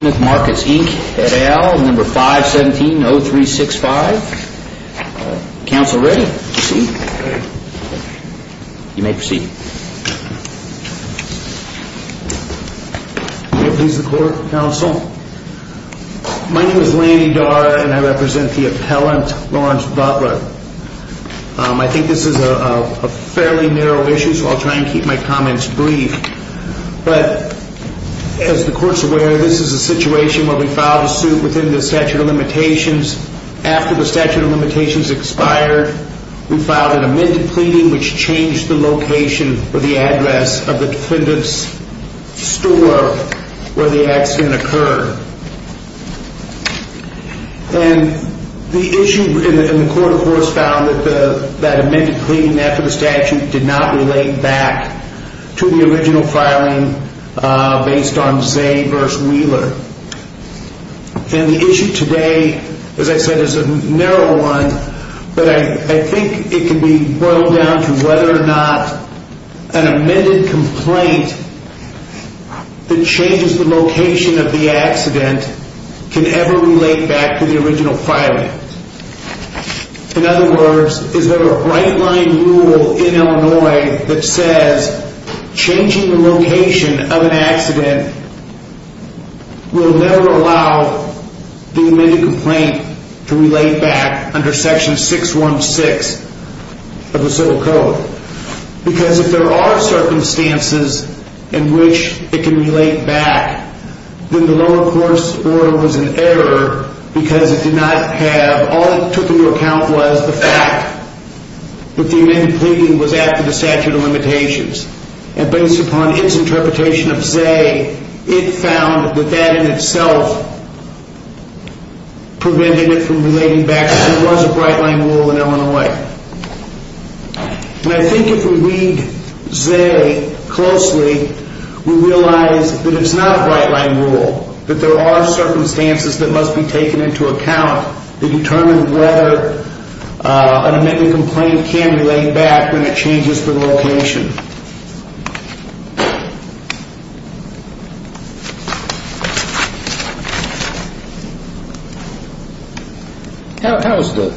at A.L. 517-0365. Council ready? Proceed? You may proceed. May it please the court, counsel. My name is Lanny Darr and I represent the appellant, Lawrence Butler. I think this is a fairly narrow issue so I'll try and keep my comments brief. But as the court's aware, this is a situation where we filed a suit within the statute of limitations. After the statute of limitations expired, we filed an amended pleading which changed the location or the address of the defendant's store where the accident occurred. And the issue in the court, of course, found that that amended pleading after the statute did not relate back to the original filing based on Zay v. Wheeler. And the issue today, as I said, is a narrow one, but I think it can be boiled down to whether or not an amended complaint that changes the location of the accident can ever relate back to the original filing. In other words, is there a right-line rule in Illinois that says changing the location of an accident will never allow the amended complaint to relate back under section 616 of the civil code? Because if there are circumstances in which it can relate back, then the lower court's order was in error because it did not have, all it took into account was the fact that the amended pleading was after the statute of limitations. And based upon its interpretation of Zay, it found that that in itself prevented it from relating back because there was a right-line rule in Illinois. And I think if we read Zay closely, we realize that it's not a right-line rule, that there are circumstances that must be taken into account to determine whether an amended complaint can relate back when it changes the location. How is the,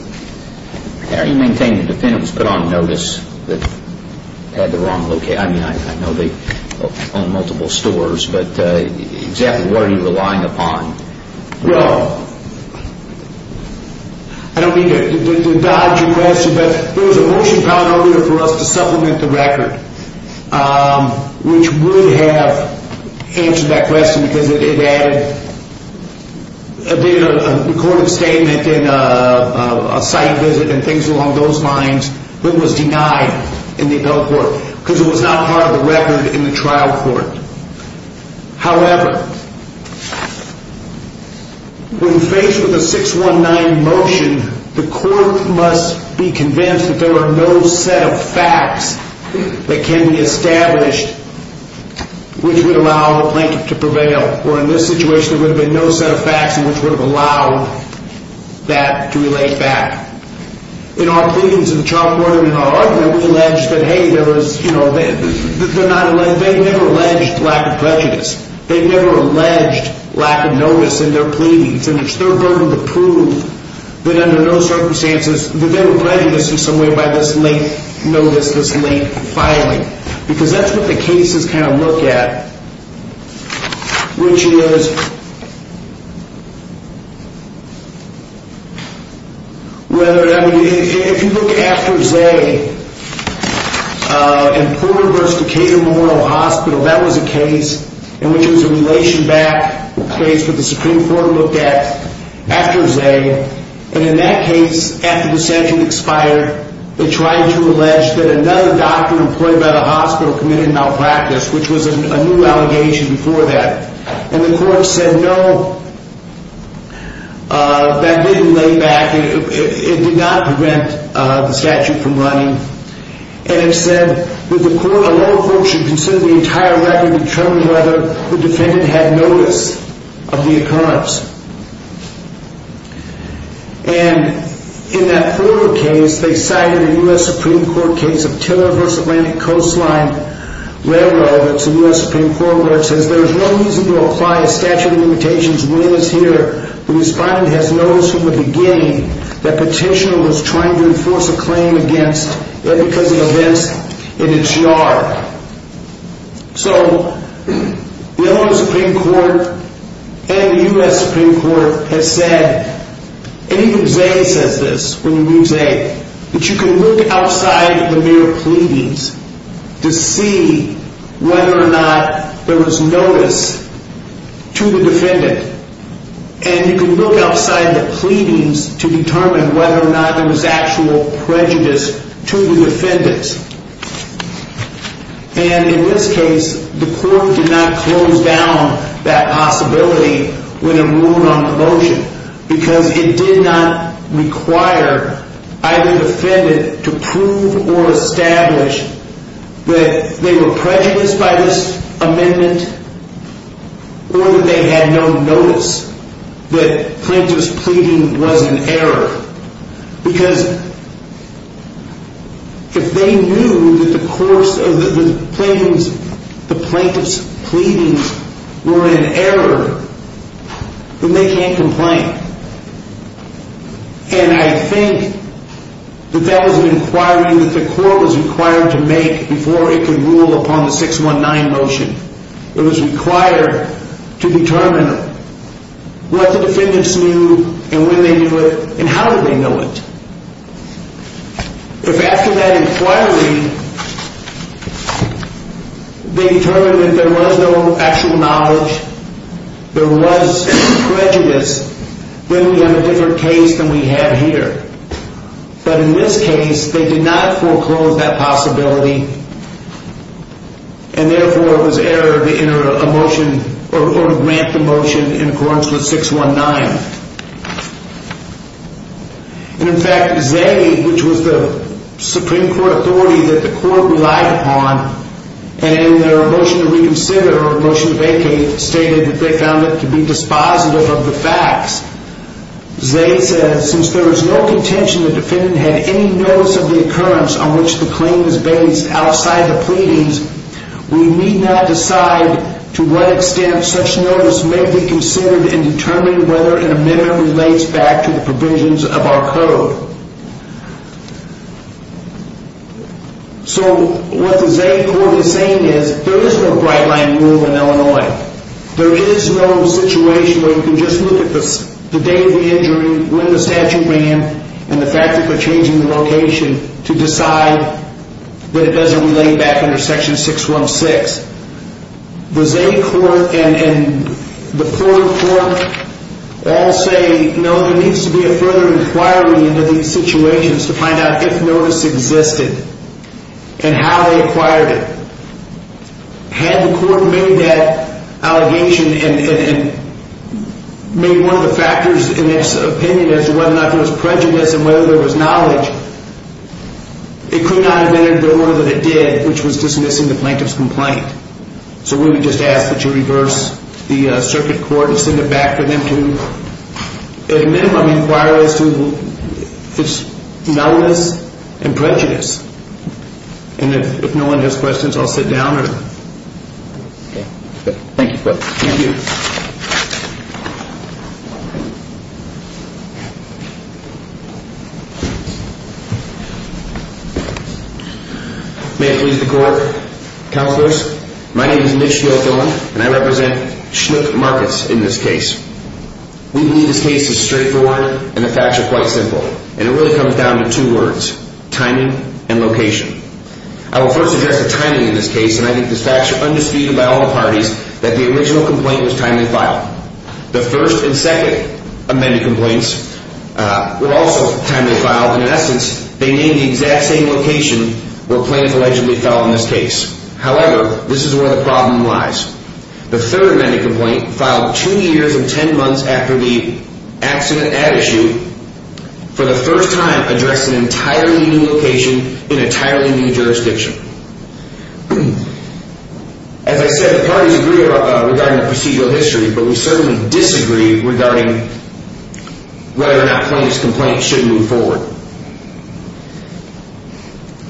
how do you maintain the defendant was put on notice that had the wrong location? I mean, I know they own multiple stores, but exactly what are you relying upon? Well, I don't mean to dodge your question, but there was a motion found earlier for us to supplement the record, which would have answered that question because it added a recorded statement and a site visit and things along those lines, but was denied in the appellate court because it was not part of the record in the trial court. However, when faced with a 619 motion, the court must be convinced that there are no set of facts that can be established, which would allow a plaintiff to prevail, or in this situation, there would have been no set of facts in which would have allowed that to relate back. In our pleadings in the trial court and in our argument, we allege that, hey, there was, you know, they never alleged lack of prejudice. They never alleged lack of notice in their pleadings, and it's their burden to prove that under no circumstances that they were prejudiced in some way by this late notice, this late filing. Because that's what the cases kind of look at, which is, if you look at after Zay and Porter v. Decatur Memorial Hospital, that was a case in which it was a relation back case that the Supreme Court looked at after Zay, and in that case, after the statute expired, they tried to allege that another doctor employed by the hospital committed a malpractice, which was a new allegation before that, and the court said, no, that didn't lay back, it did not prevent the statute from running, and it said that the court alone should consider the entire record and determine whether the defendant had notice of the occurrence, and in that Porter case, they cited a U.S. Supreme Court case of Tiller v. Atlantic Coastline Railroad, where it says, there is no reason to apply a statute of limitations when it is here that the defendant has notice from the beginning that the petitioner was trying to enforce a claim against them because of events in its yard. So, the Illinois Supreme Court and the U.S. Supreme Court has said, and even Zay says this, when you read Zay, that you can look outside the mere pleadings to see whether or not there was notice to the defendant, and you can look outside the pleadings to determine whether or not there was actual prejudice to the defendant. And in this case, the court did not close down that possibility when it ruled on the motion, because it did not require either the defendant to prove or establish that they were prejudiced by this amendment, or that they had no notice that Flint was pleading was an error. Because if they knew that the plaintiff's pleadings were an error, then they can't complain. And I think that that was an inquiry that the court was required to make before it could rule upon the 619 motion. It was required to determine what the defendants knew, and when they knew it, and how did they know it. If after that inquiry, they determined that there was no actual knowledge, there was prejudice, then we have a different case than we have here. But in this case, they did not foreclose that possibility, and therefore it was error to grant the motion in accordance with 619. And in fact, Zaid, which was the Supreme Court authority that the court relied upon, and in their motion to reconsider, or motion to vacate, stated that they found it to be dispositive of the facts. Zaid says, since there is no contention that the defendant had any notice of the occurrence on which the claim is based outside the pleadings, we need not decide to what extent such notice may be considered in determining whether an amendment relates back to the provisions of our code. So what the Zaid court is saying is, there is no bright line rule in Illinois. There is no situation where you can just look at the date of the injury, when the statute ran, and the fact that they're changing the location to decide that it doesn't relate back under section 616. The Zaid court and the foreign court all say, no, there needs to be a further inquiry into these situations to find out if notice existed, and how they acquired it. Had the court made that allegation and made one of the factors in its opinion as to whether or not there was prejudice and whether there was knowledge, it could not have entered the order that it did, which was dismissing the plaintiff's complaint. So we would just ask that you reverse the circuit court and send it back for them to, at a minimum, inquire as to its nullness and prejudice. And if no one has questions, I'll sit down. Thank you. Thank you. May it please the court. Counselors, my name is Mitch Gilfillan, and I represent Schmidt Markets in this case. We believe this case is straightforward, and the facts are quite simple. And it really comes down to two words, timing and location. I will first address the timing in this case, and I think the facts are undisputed by all the parties that the original complaint was timely filed. The first and second amended complaints were also timely filed, and in essence, they named the exact same location where the plaintiff allegedly fell in this case. However, this is where the problem lies. The third amended complaint filed two years and ten months after the accident at issue for the first time addressed an entirely new location in an entirely new jurisdiction. As I said, the parties agree regarding the procedural history, but we certainly disagree regarding whether or not the plaintiff's complaint should move forward.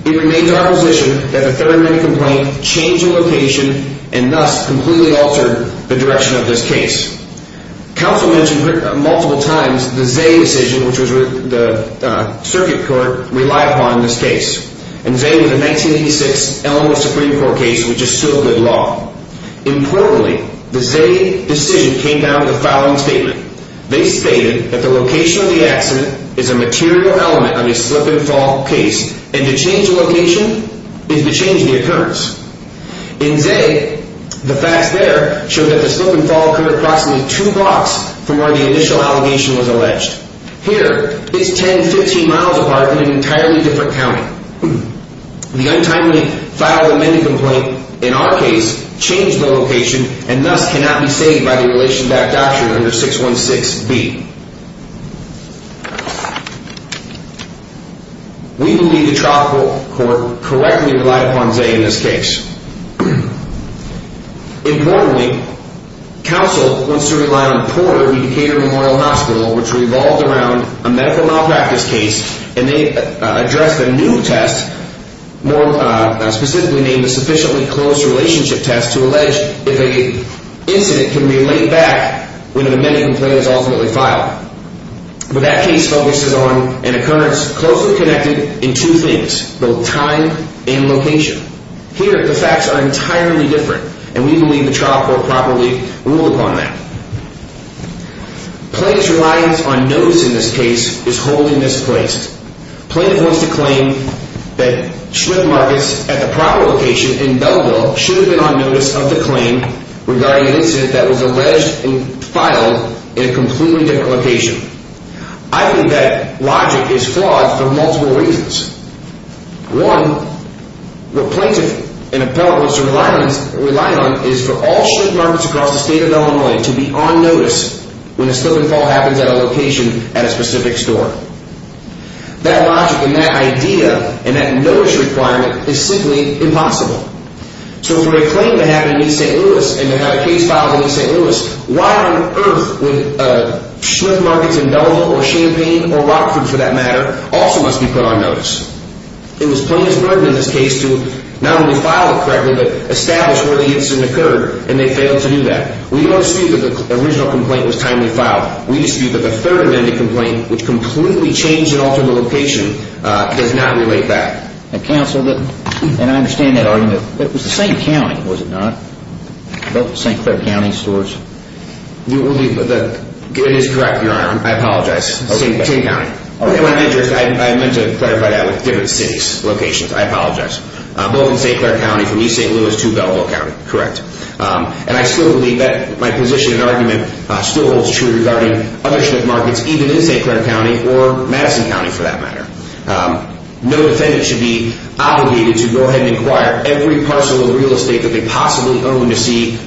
It remains our position that the third amended complaint changed the location and thus completely altered the direction of this case. Counsel mentioned multiple times the Zay decision, which the circuit court relied upon in this case. And Zay was a 1986 Illinois Supreme Court case, which is still good law. Importantly, the Zay decision came down to the following statement. They stated that the location of the accident is a material element of a slip-and-fall case, and to change the location is to change the occurrence. In Zay, the facts there show that the slip-and-fall occurred approximately two blocks from where the initial allegation was alleged. Here, it's 10, 15 miles apart in an entirely different county. The untimely filed amended complaint, in our case, changed the location and thus cannot be saved by the relation-backed doctrine under 616B. We believe the trial court correctly relied upon Zay in this case. Importantly, counsel wants to rely on Porter Medicare Memorial Hospital, which revolved around a medical malpractice case, and they addressed a new test, specifically named the sufficiently close relationship test, to allege if an incident can be relayed back when an amended complaint is ultimately filed. But that case focuses on an occurrence closely connected in two things, both time and location. Here, the facts are entirely different, and we believe the trial court properly ruled upon that. Plaintiff's reliance on notice in this case is wholly misplaced. Plaintiff wants to claim that Schmidt Marcus, at the proper location in Belleville, should have been on notice of the claim regarding an incident that was alleged and filed in a completely different location. I think that logic is flawed for multiple reasons. One, what plaintiff and appellate wants to rely on is for all Schmidt Marcus across the state of Illinois to be on notice when a slip and fall happens at a location at a specific store. That logic and that idea and that notice requirement is simply impossible. So for a claim to happen in East St. Louis and to have a case filed in East St. Louis, why on earth would Schmidt Marcus in Belleville or Champaign or Rockford, for that matter, also must be put on notice? It was plaintiff's burden in this case to not only file it correctly but establish where the incident occurred, and they failed to do that. We don't dispute that the original complaint was timely filed. We dispute that the third amended complaint, which completely changed and altered the location, does not relate back. And I understand that argument. It was St. Clair County, was it not? St. Clair County stores? It is correct, Your Honor. I apologize. St. Clair County. I meant to clarify that with different cities, locations. I apologize. Both St. Clair County from East St. Louis to Belleville County. Correct. And I still believe that my position and argument still holds true regarding other Schmidt Marcus, even in St. Clair County or Madison County, for that matter. No defendant should be obligated to go ahead and inquire every parcel of real estate that they possibly own to see,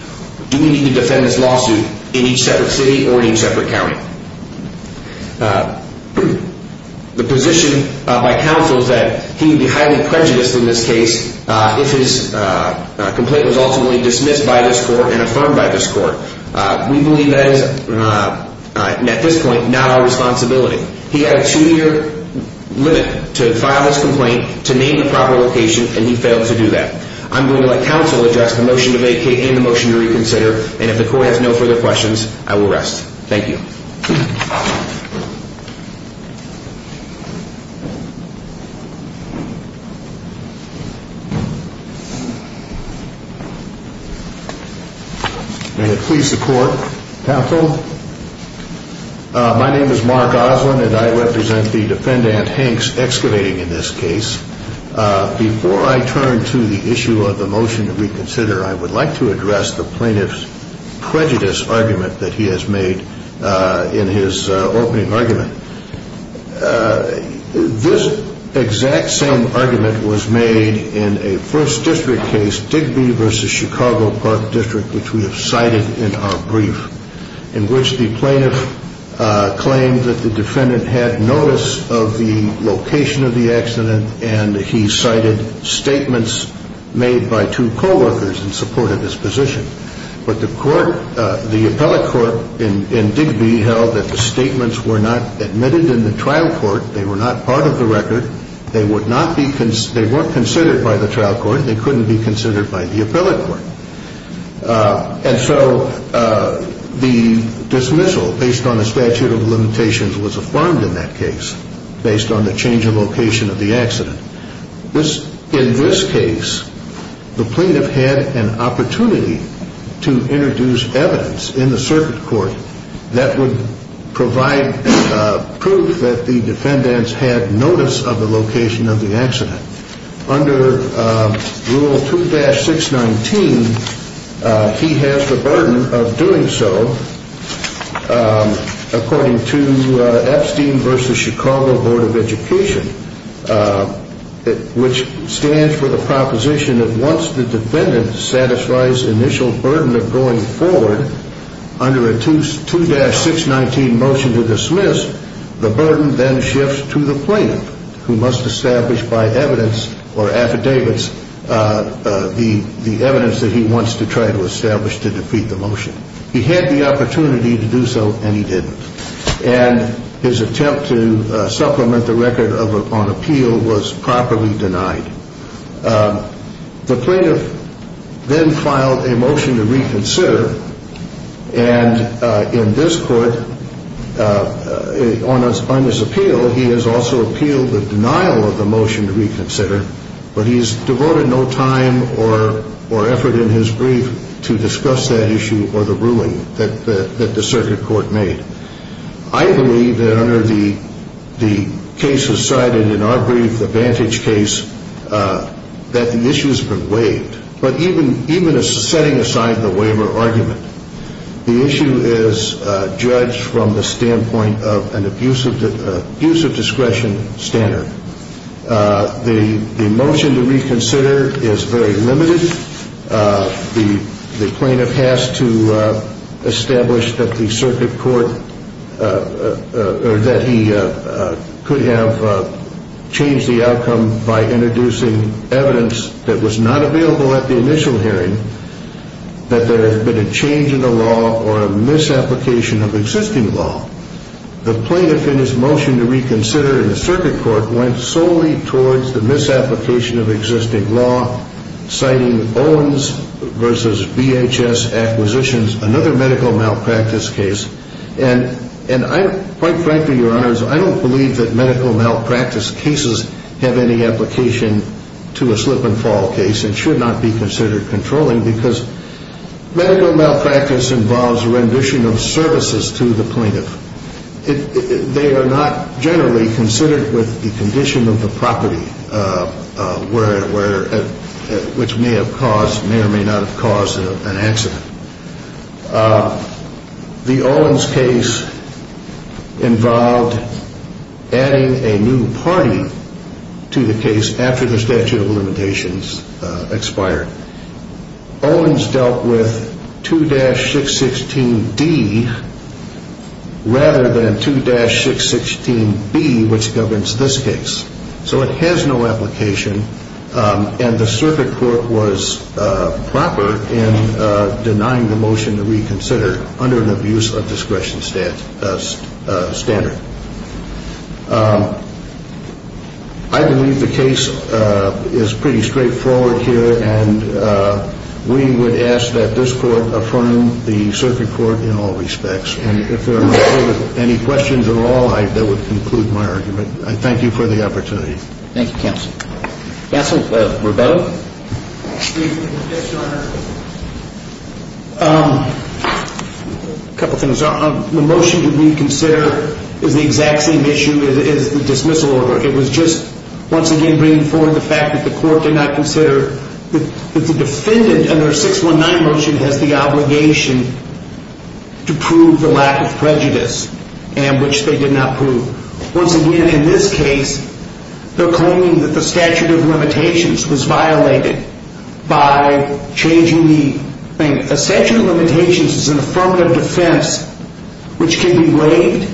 do we need to defend this lawsuit in each separate city or in each separate county? The position by counsel is that he would be highly prejudiced in this case if his complaint was ultimately dismissed by this court and affirmed by this court. We believe that is, at this point, not our responsibility. He had a two-year limit to file his complaint, to name the proper location, and he failed to do that. I'm going to let counsel address the motion to vacate and the motion to reconsider, and if the court has no further questions, I will rest. Thank you. May it please the court, counsel. My name is Mark Oslin, and I represent the defendant, Hanks, excavating in this case. Before I turn to the issue of the motion to reconsider, I would like to address the plaintiff's prejudice argument that he has made in his opening argument. This exact same argument was made in a First District case, Digby v. Chicago Park District, which we have cited in our brief. In which the plaintiff claimed that the defendant had notice of the location of the accident and he cited statements made by two co-workers in support of his position. But the court, the appellate court in Digby held that the statements were not admitted in the trial court. They were not part of the record. They were not considered by the trial court. They couldn't be considered by the appellate court. And so the dismissal based on the statute of limitations was affirmed in that case based on the change of location of the accident. In this case, the plaintiff had an opportunity to introduce evidence in the circuit court that would provide proof that the defendants had notice of the location of the accident. Under Rule 2-619, he has the burden of doing so. According to Epstein v. Chicago Board of Education, which stands for the proposition that once the defendant satisfies initial burden of going forward under a 2-619 motion to dismiss, the burden then shifts to the plaintiff who must establish by evidence or affidavits the evidence that he wants to try to establish to defeat the motion. He had the opportunity to do so and he didn't. And his attempt to supplement the record on appeal was properly denied. The plaintiff then filed a motion to reconsider. And in this court, on his appeal, he has also appealed the denial of the motion to reconsider, but he has devoted no time or effort in his brief to discuss that issue or the ruling that the circuit court made. I believe that under the cases cited in our brief, the Vantage case, that the issue has been waived. But even setting aside the waiver argument, the issue is judged from the standpoint of an abuse of discretion standard. The motion to reconsider is very limited. The plaintiff has to establish that the circuit court, or that he could have changed the outcome by introducing evidence that was not available at the initial hearing, that there has been a change in the law or a misapplication of existing law. The plaintiff in his motion to reconsider in the circuit court went solely towards the misapplication of existing law, citing Owens versus VHS acquisitions, another medical malpractice case. And quite frankly, Your Honors, I don't believe that medical malpractice cases have any application to a slip-and-fall case and should not be considered controlling because medical malpractice involves rendition of services to the plaintiff. They are not generally considered with the condition of the property, which may or may not have caused an accident. The Owens case involved adding a new party to the case after the statute of limitations expired. Owens dealt with 2-616D rather than 2-616B, which governs this case. So it has no application, and the circuit court was proper in denying the motion to reconsider under an abuse of discretion standard. I believe the case is pretty straightforward here, and we would ask that this court affirm the circuit court in all respects. And if there are any questions at all, that would conclude my argument. I thank you for the opportunity. Thank you, counsel. Counsel, Roberto? Yes, Your Honor. A couple things. The motion to reconsider is the exact same issue as the dismissal order. It was just once again bringing forward the fact that the court did not consider that the defendant under 619 motion has the obligation to prove the lack of prejudice, and which they did not prove. Once again, in this case, they're claiming that the statute of limitations was violated by changing the thing. A statute of limitations is an affirmative defense which can be waived,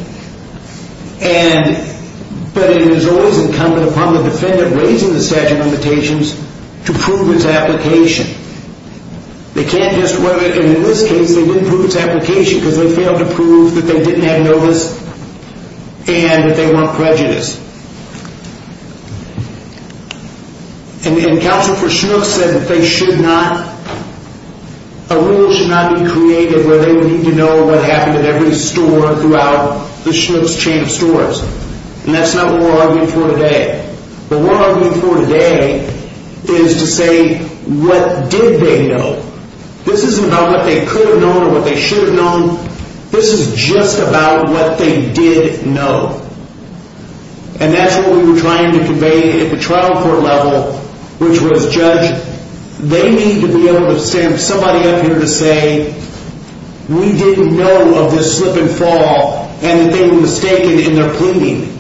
but it is always incumbent upon the defendant raising the statute of limitations to prove its application. And in this case, they didn't prove its application because they failed to prove that they didn't have notice and that they weren't prejudiced. And counsel for Schnooks said that a rule should not be created where they would need to know what happened at every store throughout the Schnooks chain of stores. And that's not what we're arguing for today. But what we're arguing for today is to say, what did they know? This isn't about what they could have known or what they should have known. This is just about what they did know. And that's what we were trying to convey at the trial court level, which was, Judge, they need to be able to stand somebody up here to say, we didn't know of this slip and fall, and that they were mistaken in their pleading.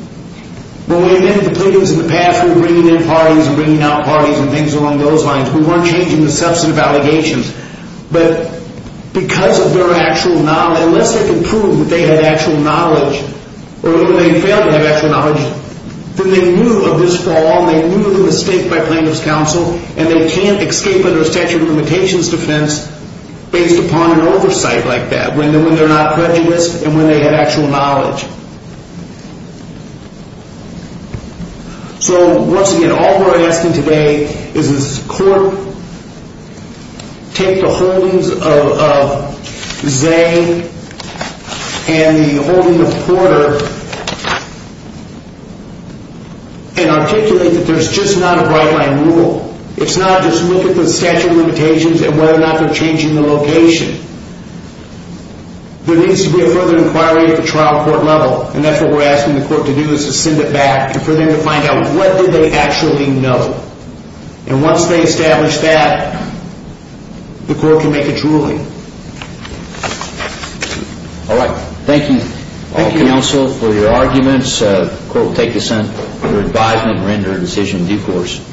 When we did the pleadings in the past, we were bringing in parties and bringing out parties and things along those lines. We weren't changing the substantive allegations. But because of their actual knowledge, unless they could prove that they had actual knowledge or that they failed to have actual knowledge, then they knew of this fall and they knew of the mistake by plaintiff's counsel, and they can't escape under a statute of limitations defense based upon an oversight like that, when they're not prejudiced and when they have actual knowledge. So once again, all we're asking today is this court take the holdings of Zay and the holding of Porter and articulate that there's just not a right line rule. It's not just look at the statute of limitations and whether or not they're changing the location. There needs to be a further inquiry at the trial court level, and that's what we're asking the court to do is to send it back and for them to find out what did they actually know. And once they establish that, the court can make its ruling. All right. Thank you, counsel, for your arguments. The court will take this under advisement and render a decision in due course.